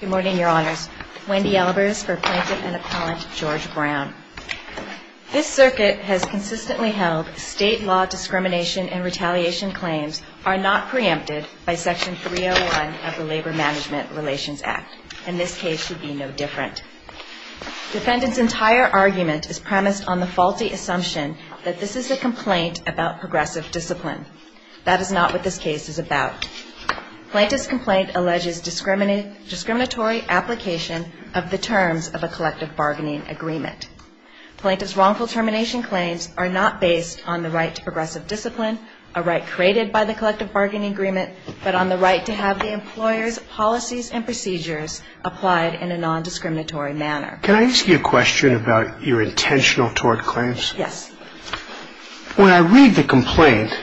Good morning, your honors. Wendy Albers for Plaintiff and Appellant George Brown. This circuit has consistently held state law discrimination and retaliation claims are not preempted by Section 301 of the Labor Management Relations Act. And this case should be no different. Defendant's entire argument is premised on the faulty assumption that this is a complaint about progressive discipline. That is not what this case is about. Plaintiff's complaint alleges discriminatory application of the terms of a collective bargaining agreement. Plaintiff's wrongful termination claims are not based on the right to progressive discipline, a right created by the collective bargaining agreement, but on the right to have the employer's policies and procedures applied in a non-discriminatory manner. Can I ask you a question about your intentional tort claims? Yes. When I read the complaint,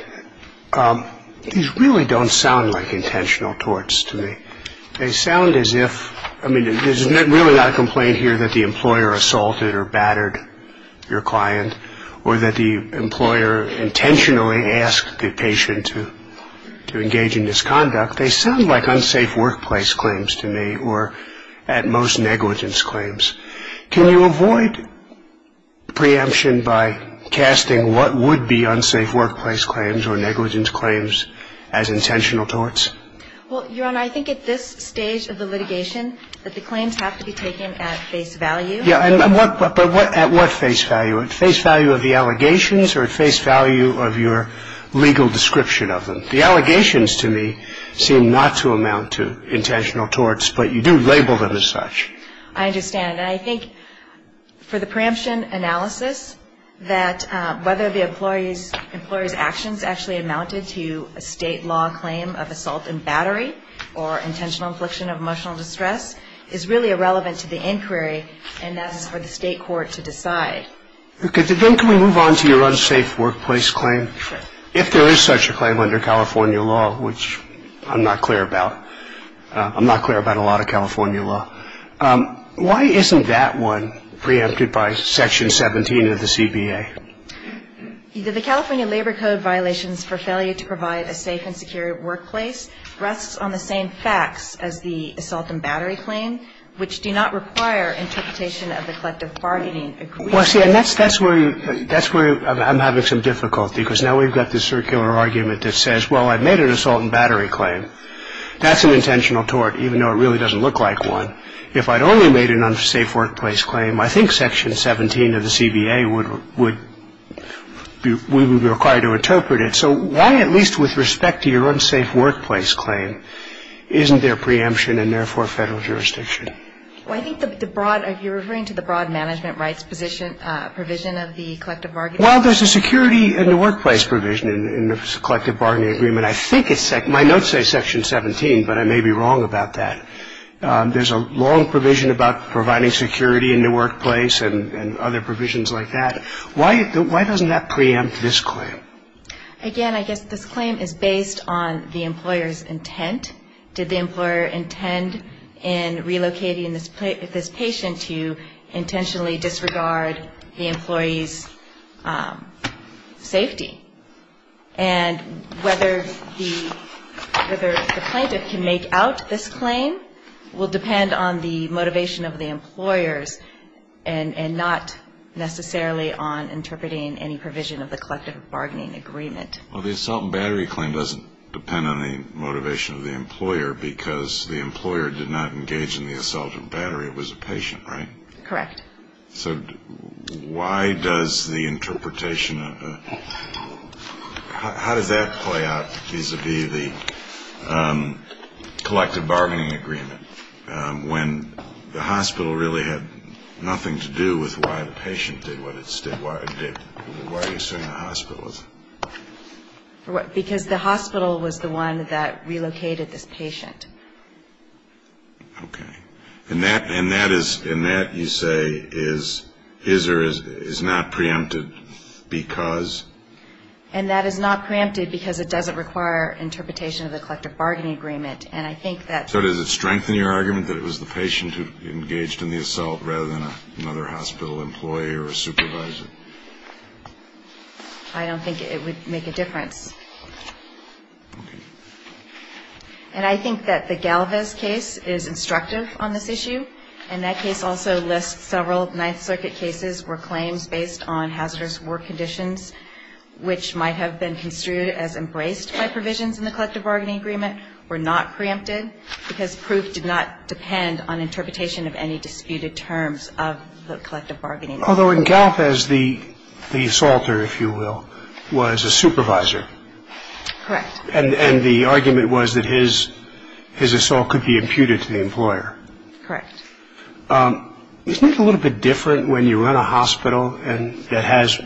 these really don't sound like intentional torts to me. They sound as if – I mean, there's really not a complaint here that the employer assaulted or battered your client or that the employer intentionally asked the patient to engage in misconduct. They sound like unsafe workplace claims to me or, at most, negligence claims. Can you avoid preemption by casting what would be unsafe workplace claims or negligence claims as intentional torts? Well, Your Honor, I think at this stage of the litigation that the claims have to be taken at face value. Yeah, but at what face value? At face value of the allegations or at face value of your legal description of them? The allegations, to me, seem not to amount to intentional torts, but you do label them as such. I understand, and I think for the preemption analysis, that whether the employee's actions actually amounted to a state law claim of assault and battery or intentional infliction of emotional distress is really irrelevant to the inquiry, and that's for the state court to decide. Then can we move on to your unsafe workplace claim? Sure. If there is such a claim under California law, which I'm not clear about. I'm not clear about a lot of California law. Why isn't that one preempted by Section 17 of the CBA? The California Labor Code violations for failure to provide a safe and secure workplace rests on the same facts as the assault and battery claim, which do not require interpretation of the collective bargaining agreement. Well, see, and that's where I'm having some difficulty, because now we've got this circular argument that says, well, I've made an assault and battery claim. That's an intentional tort, even though it really doesn't look like one. If I'd only made an unsafe workplace claim, I think Section 17 of the CBA would be required to interpret it. So why, at least with respect to your unsafe workplace claim, isn't there preemption and, therefore, federal jurisdiction? Well, I think the broad, are you referring to the broad management rights provision of the collective bargaining agreement? Well, there's a security in the workplace provision in the collective bargaining agreement. I think it's, my notes say Section 17, but I may be wrong about that. There's a long provision about providing security in the workplace and other provisions like that. Why doesn't that preempt this claim? Again, I guess this claim is based on the employer's intent. Did the employer intend in relocating this patient to intentionally disregard the employee's safety? And whether the plaintiff can make out this claim will depend on the motivation of the employers and not necessarily on interpreting any provision of the collective bargaining agreement. Well, the assault and battery claim doesn't depend on the motivation of the employer because the employer did not engage in the assault and battery. It was a patient, right? Correct. So why does the interpretation of the, how does that play out vis-a-vis the collective bargaining agreement when the hospital really had nothing to do with why the patient did what it did? Why are you saying the hospital was? Because the hospital was the one that relocated this patient. Okay. And that, you say, is not preempted because? And that is not preempted because it doesn't require interpretation of the collective bargaining agreement. And I think that. So does it strengthen your argument that it was the patient who engaged in the assault rather than another hospital employee or a supervisor? I don't think it would make a difference. Okay. And I think that the Galvez case is instructive on this issue, and that case also lists several Ninth Circuit cases where claims based on hazardous work conditions, which might have been construed as embraced by provisions in the collective bargaining agreement, were not preempted because proof did not depend on interpretation of any disputed terms of the collective bargaining agreement. Although in Galvez, the assaulter, if you will, was a supervisor. Correct. And the argument was that his assault could be imputed to the employer. Correct. Isn't it a little bit different when you run a hospital that has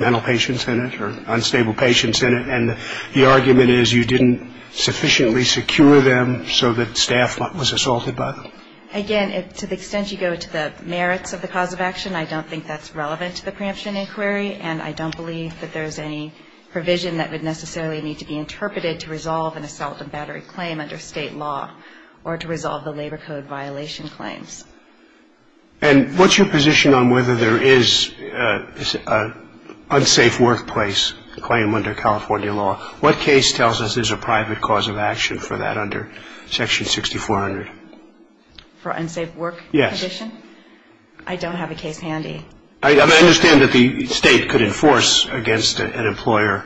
mental patients in it or unstable patients in it, and the argument is you didn't sufficiently secure them so that staff was assaulted by them? Again, to the extent you go to the merits of the cause of action, I don't think that's relevant to the preemption inquiry, and I don't believe that there's any provision that would necessarily need to be interpreted to resolve an assault and battery claim under State law or to resolve the Labor Code violation claims. And what's your position on whether there is an unsafe workplace claim under California law? What case tells us there's a private cause of action for that under Section 6400? For unsafe work condition? Yes. I don't have a case handy. I understand that the State could enforce against an employer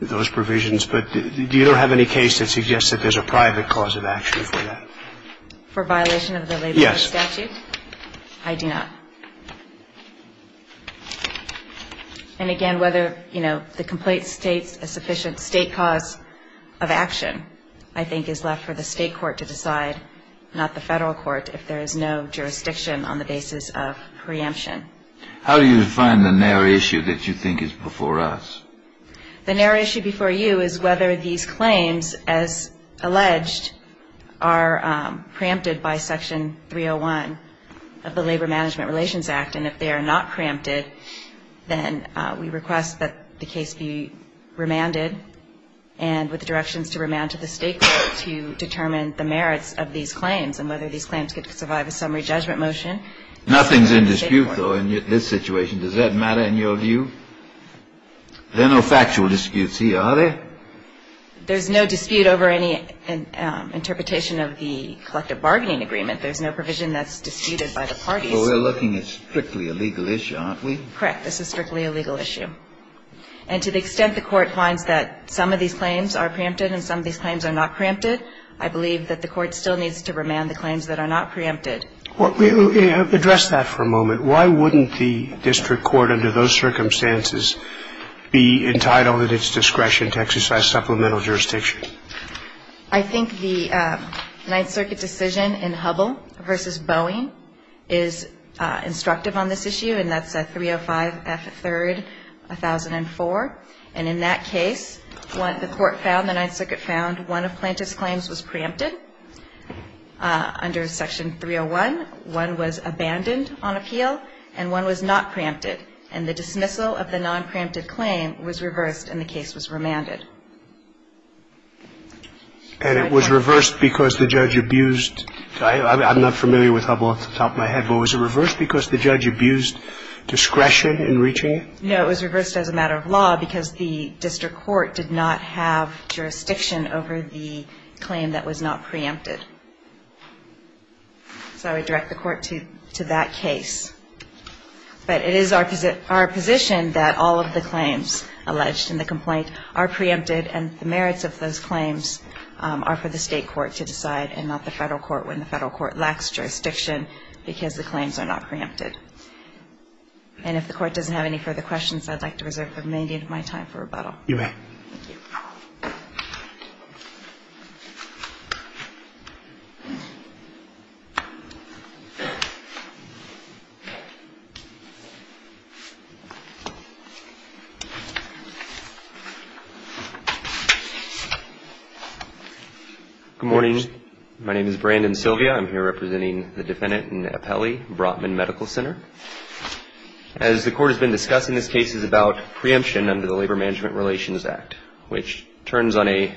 those provisions, but do you have any case that suggests that there's a private cause of action for that? For violation of the Labor Code statute? Yes. I do not. And, again, whether, you know, the complaint states a sufficient State cause of action, I think is left for the State court to decide, not the Federal court, if there is no jurisdiction on the basis of preemption. How do you define the narrow issue that you think is before us? The narrow issue before you is whether these claims, as alleged, are preempted by Section 301 of the Labor Management Relations Act. And if they are not preempted, then we request that the case be remanded and with directions to remand to the State court to determine the merits of these claims and whether these claims could survive a summary judgment motion. Nothing's in dispute, though, in this situation. Does that matter in your view? There are no factual disputes here, are there? There's no dispute over any interpretation of the collective bargaining agreement. There's no provision that's disputed by the parties. Well, we're looking at strictly a legal issue, aren't we? Correct. This is strictly a legal issue. And to the extent the Court finds that some of these claims are preempted and some of these claims are not preempted, I believe that the Court still needs to remand the claims that are not preempted. Address that for a moment. Why wouldn't the district court under those circumstances be entitled at its discretion to exercise supplemental jurisdiction? I think the Ninth Circuit decision in Hubbell v. Boeing is instructive on this issue, and that's 305 F. 3rd, 1004. And in that case, the Court found, the Ninth Circuit found, one of Plante's claims was preempted under Section 301, one was abandoned on appeal, and one was not preempted, and the dismissal of the nonpreempted claim was reversed and the case was remanded. And it was reversed because the judge abused – I'm not familiar with Hubbell off the top of my head, but was it reversed because the judge abused discretion in reaching it? No, it was reversed as a matter of law because the district court did not have jurisdiction over the claim that was not preempted. So I would direct the Court to that case. But it is our position that all of the claims alleged in the complaint are preempted and the merits of those claims are for the state court to decide and not the federal court when the federal court lacks jurisdiction because the claims are not preempted. And if the Court doesn't have any further questions, I'd like to reserve the remaining of my time for rebuttal. You may. Good morning. My name is Brandon Sylvia. I'm here representing the defendant in Appelli, Brotman Medical Center. As the Court has been discussing this case, it's about preemption under the Labor Management Relations Act, which turns on an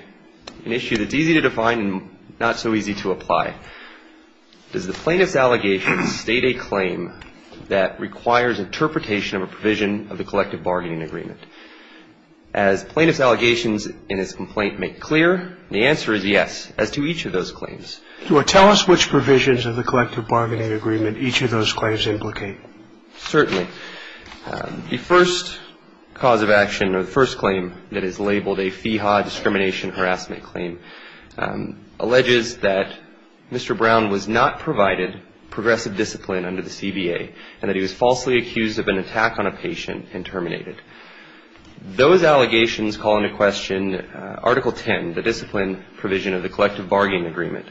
issue that's easy to define and not so easy to apply. Does the plaintiff's allegation state a claim that requires interpretation of a provision of the collective bargaining agreement? As plaintiff's allegations in this complaint make clear, the answer is yes as to each of those claims. Do I tell us which provisions of the collective bargaining agreement each of those claims implicate? Certainly. The first cause of action or the first claim that is labeled a FEHA discrimination harassment claim alleges that Mr. Brown was not provided progressive discipline under the CBA and that he was falsely accused of an attack on a patient and terminated. Those allegations call into question Article 10, the discipline provision of the collective bargaining agreement,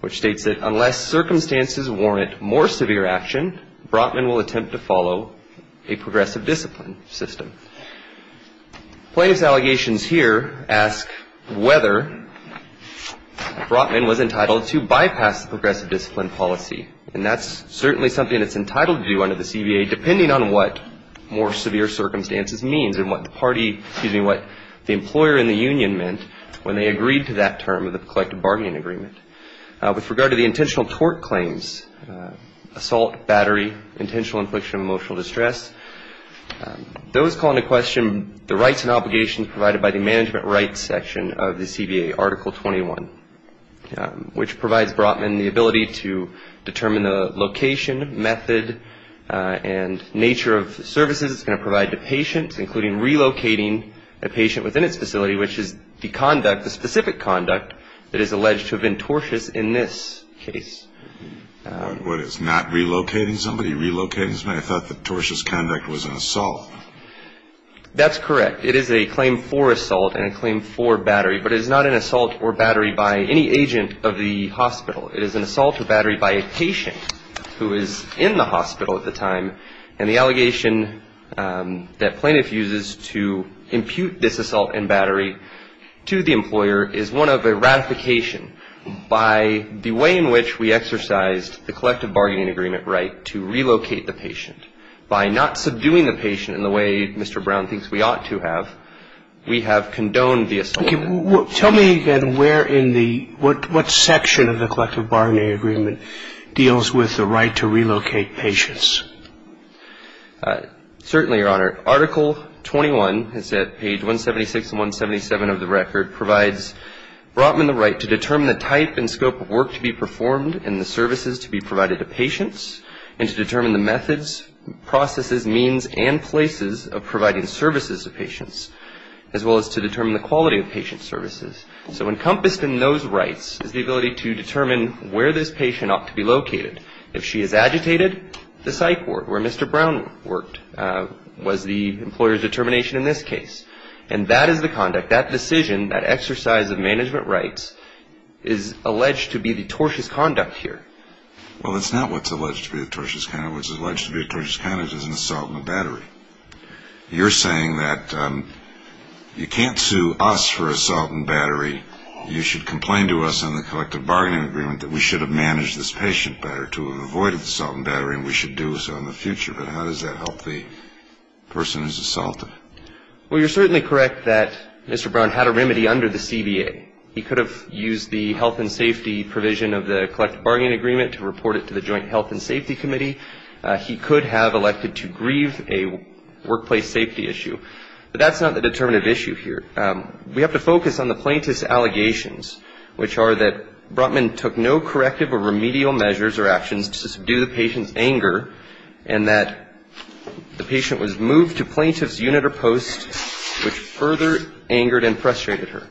which states that unless circumstances warrant more severe action, Brotman will attempt to follow a progressive discipline system. Plaintiff's allegations here ask whether Brotman was entitled to bypass the progressive discipline policy, and that's certainly something that's entitled to do under the CBA depending on what more severe circumstances means and what the employer in the union meant when they agreed to that term of the collective bargaining agreement. With regard to the intentional tort claims, assault, battery, intentional infliction of emotional distress, those call into question the rights and obligations provided by the management rights section of the CBA, particularly Article 21, which provides Brotman the ability to determine the location, method, and nature of services it's going to provide the patient, including relocating a patient within its facility, which is the conduct, the specific conduct that is alleged to have been tortious in this case. What, it's not relocating somebody, relocating somebody? That's correct. It is a claim for assault and a claim for battery, but it is not an assault or battery by any agent of the hospital. It is an assault or battery by a patient who is in the hospital at the time, and the allegation that plaintiff uses to impute this assault and battery to the employer is one of a ratification by the way in which we exercised the collective bargaining agreement right to relocate the patient by not subduing the patient in the way Mr. Brown thinks we ought to have. We have condoned the assault. Tell me again where in the, what section of the collective bargaining agreement deals with the right to relocate patients? Certainly, Your Honor. Article 21, page 176 and 177 of the record, provides Brotman the right to determine the type and scope of work to be performed and the services to be provided to patients and to determine the methods, processes, means and places of providing services to patients, as well as to determine the quality of patient services. So encompassed in those rights is the ability to determine where this patient ought to be located. If she is agitated, the psych ward where Mr. Brown worked was the employer's determination in this case. And that is the conduct, that decision, that exercise of management rights is alleged to be the tortious conduct here. Well, that's not what's alleged to be the tortious conduct. What's alleged to be the tortious conduct is an assault on a battery. You're saying that you can't sue us for assault and battery. You should complain to us on the collective bargaining agreement that we should have managed this patient better, to have avoided the assault and battery, and we should do so in the future. But how does that help the person who's assaulted? Well, you're certainly correct that Mr. Brown had a remedy under the CBA. He could have used the health and safety provision of the collective bargaining agreement to report it to the joint health and safety committee. He could have elected to grieve a workplace safety issue. But that's not the determinative issue here. We have to focus on the plaintiff's allegations, which are that Brotman took no corrective or remedial measures or actions to subdue the patient's anger, and that the patient was moved to plaintiff's unit or post, which further angered and frustrated her.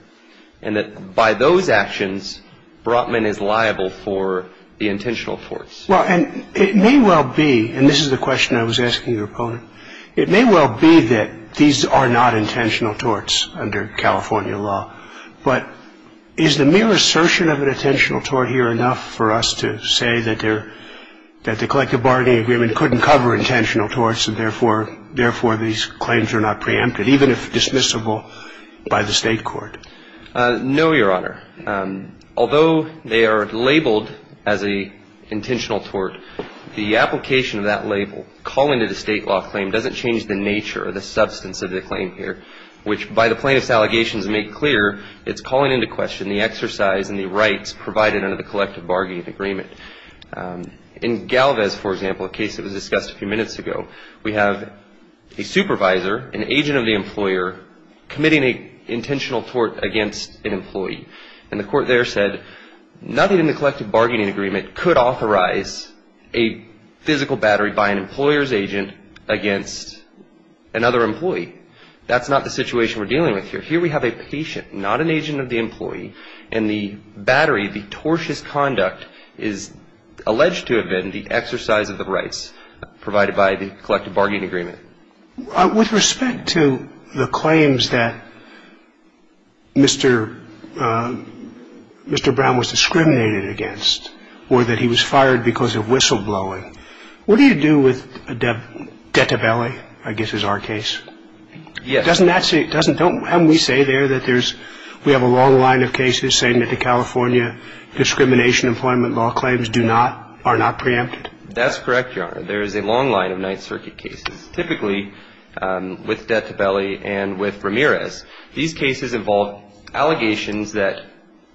And that by those actions, Brotman is liable for the intentional torts. Well, and it may well be, and this is the question I was asking your opponent, it may well be that these are not intentional torts under California law. But is the mere assertion of an intentional tort here enough for us to say that the collective bargaining agreement couldn't cover intentional torts, and therefore these claims are not preempted, even if dismissible by the State court? No, Your Honor. Although they are labeled as an intentional tort, the application of that label, calling it a State law claim, doesn't change the nature or the substance of the claim here, which by the plaintiff's allegations made clear, it's calling into question the exercise and the rights provided under the collective bargaining agreement. In Galvez, for example, a case that was discussed a few minutes ago, we have a supervisor, an agent of the employer, committing an intentional tort against an employee. And the court there said nothing in the collective bargaining agreement could authorize a physical battery by an employer's agent against another employee. That's not the situation we're dealing with here. Here we have a patient, not an agent of the employee, and the battery, the tortious conduct, is alleged to have been the exercise of the rights provided by the collective bargaining agreement. With respect to the claims that Mr. Brown was discriminated against or that he was fired because of whistleblowing, what do you do with a debt to belly, I guess is our case? Yes. But doesn't that say, doesn't, don't, haven't we say there that there's, we have a long line of cases saying that the California discrimination employment law claims do not, are not preempted? That's correct, Your Honor. There is a long line of Ninth Circuit cases, typically with debt to belly and with Ramirez. These cases involve allegations that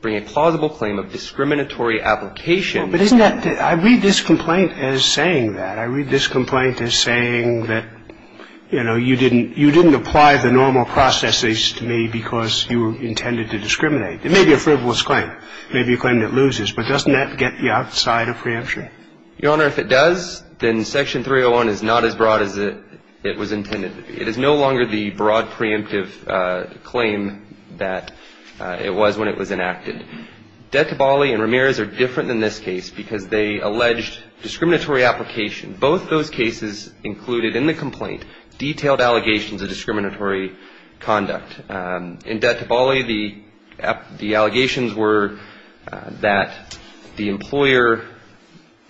bring a plausible claim of discriminatory application. But isn't that, I read this complaint as saying that. You know, you didn't, you didn't apply the normal processes to me because you intended to discriminate. It may be a frivolous claim, maybe a claim that loses, but doesn't that get you outside of preemption? Your Honor, if it does, then Section 301 is not as broad as it was intended to be. It is no longer the broad preemptive claim that it was when it was enacted. Debt to belly and Ramirez are different than this case because they alleged discriminatory application and both those cases included in the complaint detailed allegations of discriminatory conduct. In debt to belly, the allegations were that the employer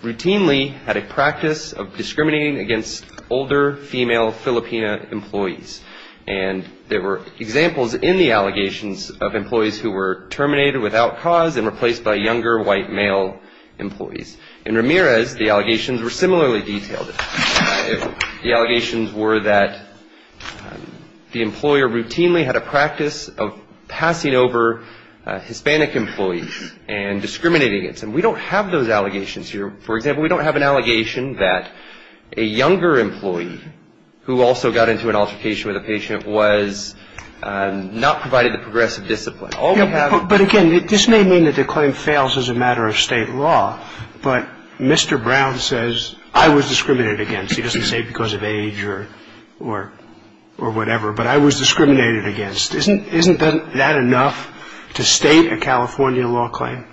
routinely had a practice of discriminating against older female Filipina employees and there were examples in the allegations of employees who were terminated without cause and replaced by younger white male employees. In Ramirez, the allegations were similarly detailed. The allegations were that the employer routinely had a practice of passing over Hispanic employees and discriminating against them. We don't have those allegations here. For example, we don't have an allegation that a younger employee who also got into an altercation with a patient was not provided the progressive discipline. All we have to do is say that the employer was discriminating against the patient. That's all we have. But again, this may mean that the claim fails as a matter of State law, but Mr. Brown says, I was discriminated against. He doesn't say because of age or whatever, but I was discriminated against. Isn't that enough to state a California law claim?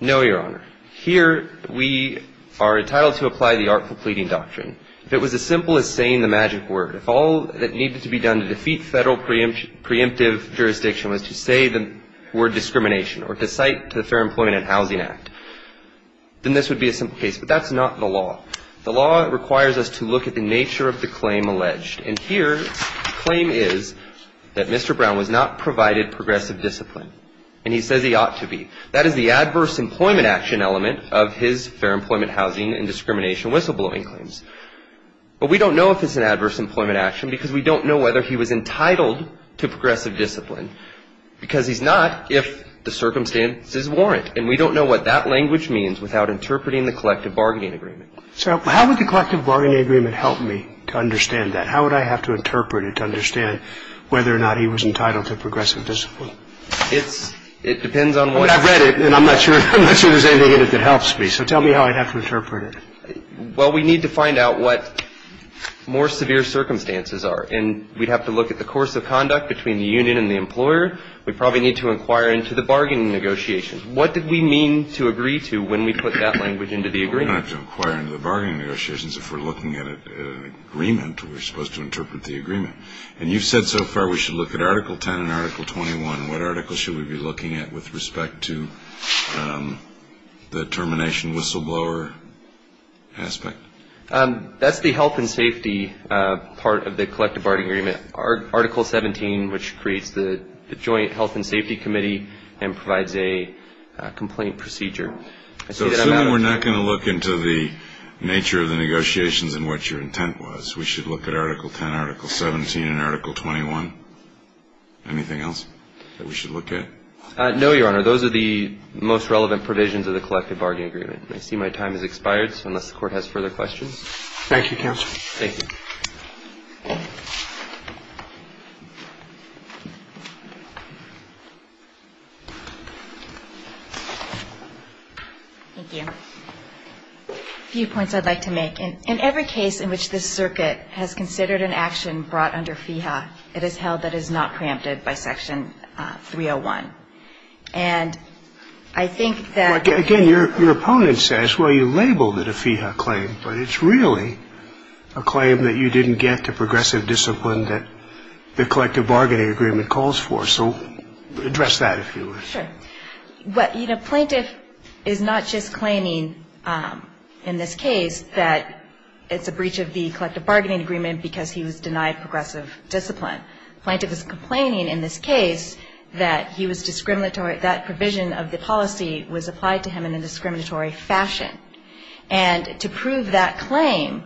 No, Your Honor. Here, we are entitled to apply the artful pleading doctrine. If it was as simple as saying the magic word, if all that needed to be done to defeat Federal preemptive jurisdiction was to say the word discrimination or to cite the Fair Employment and Housing Act, then this would be a simple case. But that's not the law. The law requires us to look at the nature of the claim alleged. And here, the claim is that Mr. Brown was not provided progressive discipline, and he says he ought to be. That is the adverse employment action element of his fair employment, housing, and discrimination whistleblowing claims. But we don't know if it's an adverse employment action because we don't know whether he was entitled to progressive discipline because he's not if the circumstances warrant. And we don't know what that language means without interpreting the collective bargaining agreement. So how would the collective bargaining agreement help me to understand that? How would I have to interpret it to understand whether or not he was entitled to progressive discipline? It depends on what I've read it, and I'm not sure there's anything in it that helps me. So tell me how I'd have to interpret it. Well, we need to find out what more severe circumstances are, and we'd have to look at the course of conduct between the union and the employer. We'd probably need to inquire into the bargaining negotiations. What did we mean to agree to when we put that language into the agreement? We're going to have to inquire into the bargaining negotiations if we're looking at an agreement where we're supposed to interpret the agreement. And you've said so far we should look at Article 10 and Article 21. What article should we be looking at with respect to the termination whistleblower aspect? That's the health and safety part of the collective bargaining agreement. Article 17, which creates the joint health and safety committee and provides a complaint procedure. So assuming we're not going to look into the nature of the negotiations and what your intent was, we should look at Article 10, Article 17, and Article 21. Anything else that we should look at? No, Your Honor. Those are the most relevant provisions of the collective bargaining agreement. I see my time has expired, so unless the Court has further questions. Thank you, Counsel. Thank you. Thank you. A few points I'd like to make. In every case in which this circuit has considered an action brought under FEHA, it is held that it is not preempted by Section 301. And I think that the ---- Again, your opponent says, well, you labeled it a FEHA claim, but it's really a claim that you didn't get to progressive discipline that the collective bargaining agreement calls for. So address that, if you would. Sure. Plaintiff is not just claiming in this case that it's a breach of the collective bargaining agreement because he was denied progressive discipline. Plaintiff is complaining in this case that he was discriminatory, that provision of the policy was applied to him in a discriminatory fashion. And to prove that claim,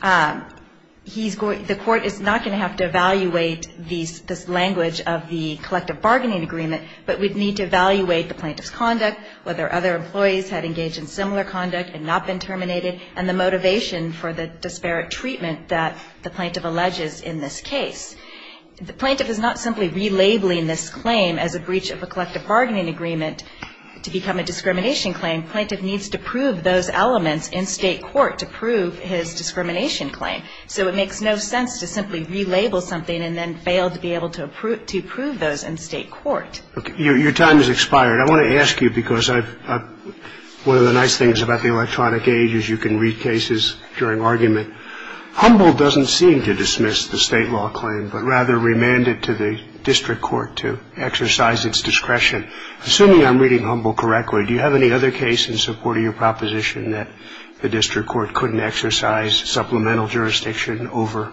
the Court is not going to have to evaluate this language of the collective bargaining agreement, but we'd need to evaluate the plaintiff's conduct, whether other employees had engaged in similar conduct and not been terminated, and the motivation for the disparate treatment that the plaintiff alleges in this case. The plaintiff is not simply relabeling this claim as a breach of a collective bargaining agreement to become a discrimination claim. Plaintiff needs to prove those elements in state court to prove his discrimination claim. So it makes no sense to simply relabel something and then fail to be able to prove those in state court. Your time has expired. I want to ask you, because one of the nice things about the electronic aid is you can read cases during argument. Humboldt doesn't seem to dismiss the state law claim, but rather remanded to the district court to exercise its discretion. Assuming I'm reading Humboldt correctly, do you have any other case in support of your proposition that the district court couldn't exercise supplemental jurisdiction over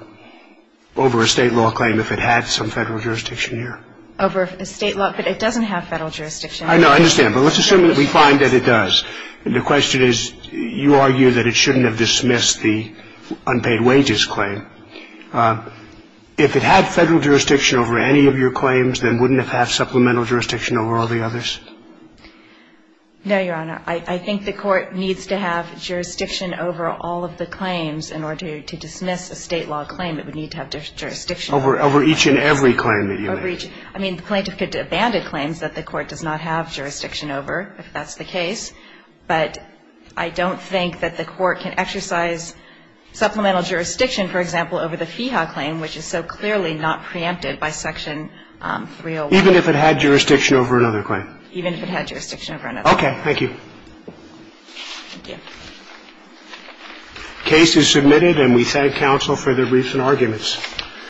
a state law claim if it had some federal jurisdiction here? Over a state law? But it doesn't have federal jurisdiction. I know. I understand. But let's assume that we find that it does. And the question is, you argue that it shouldn't have dismissed the unpaid wages claim. If it had federal jurisdiction over any of your claims, then wouldn't it have supplemental jurisdiction over all the others? No, Your Honor. I think the Court needs to have jurisdiction over all of the claims in order to dismiss a state law claim. It would need to have jurisdiction over each and every claim that you make. I mean, the plaintiff could abandon claims that the Court does not have jurisdiction over if that's the case. But I don't think that the Court can exercise supplemental jurisdiction, for example, over the FIHA claim, which is so clearly not preempted by Section 301. Even if it had jurisdiction over another claim? Even if it had jurisdiction over another claim. Okay. Thank you. Thank you.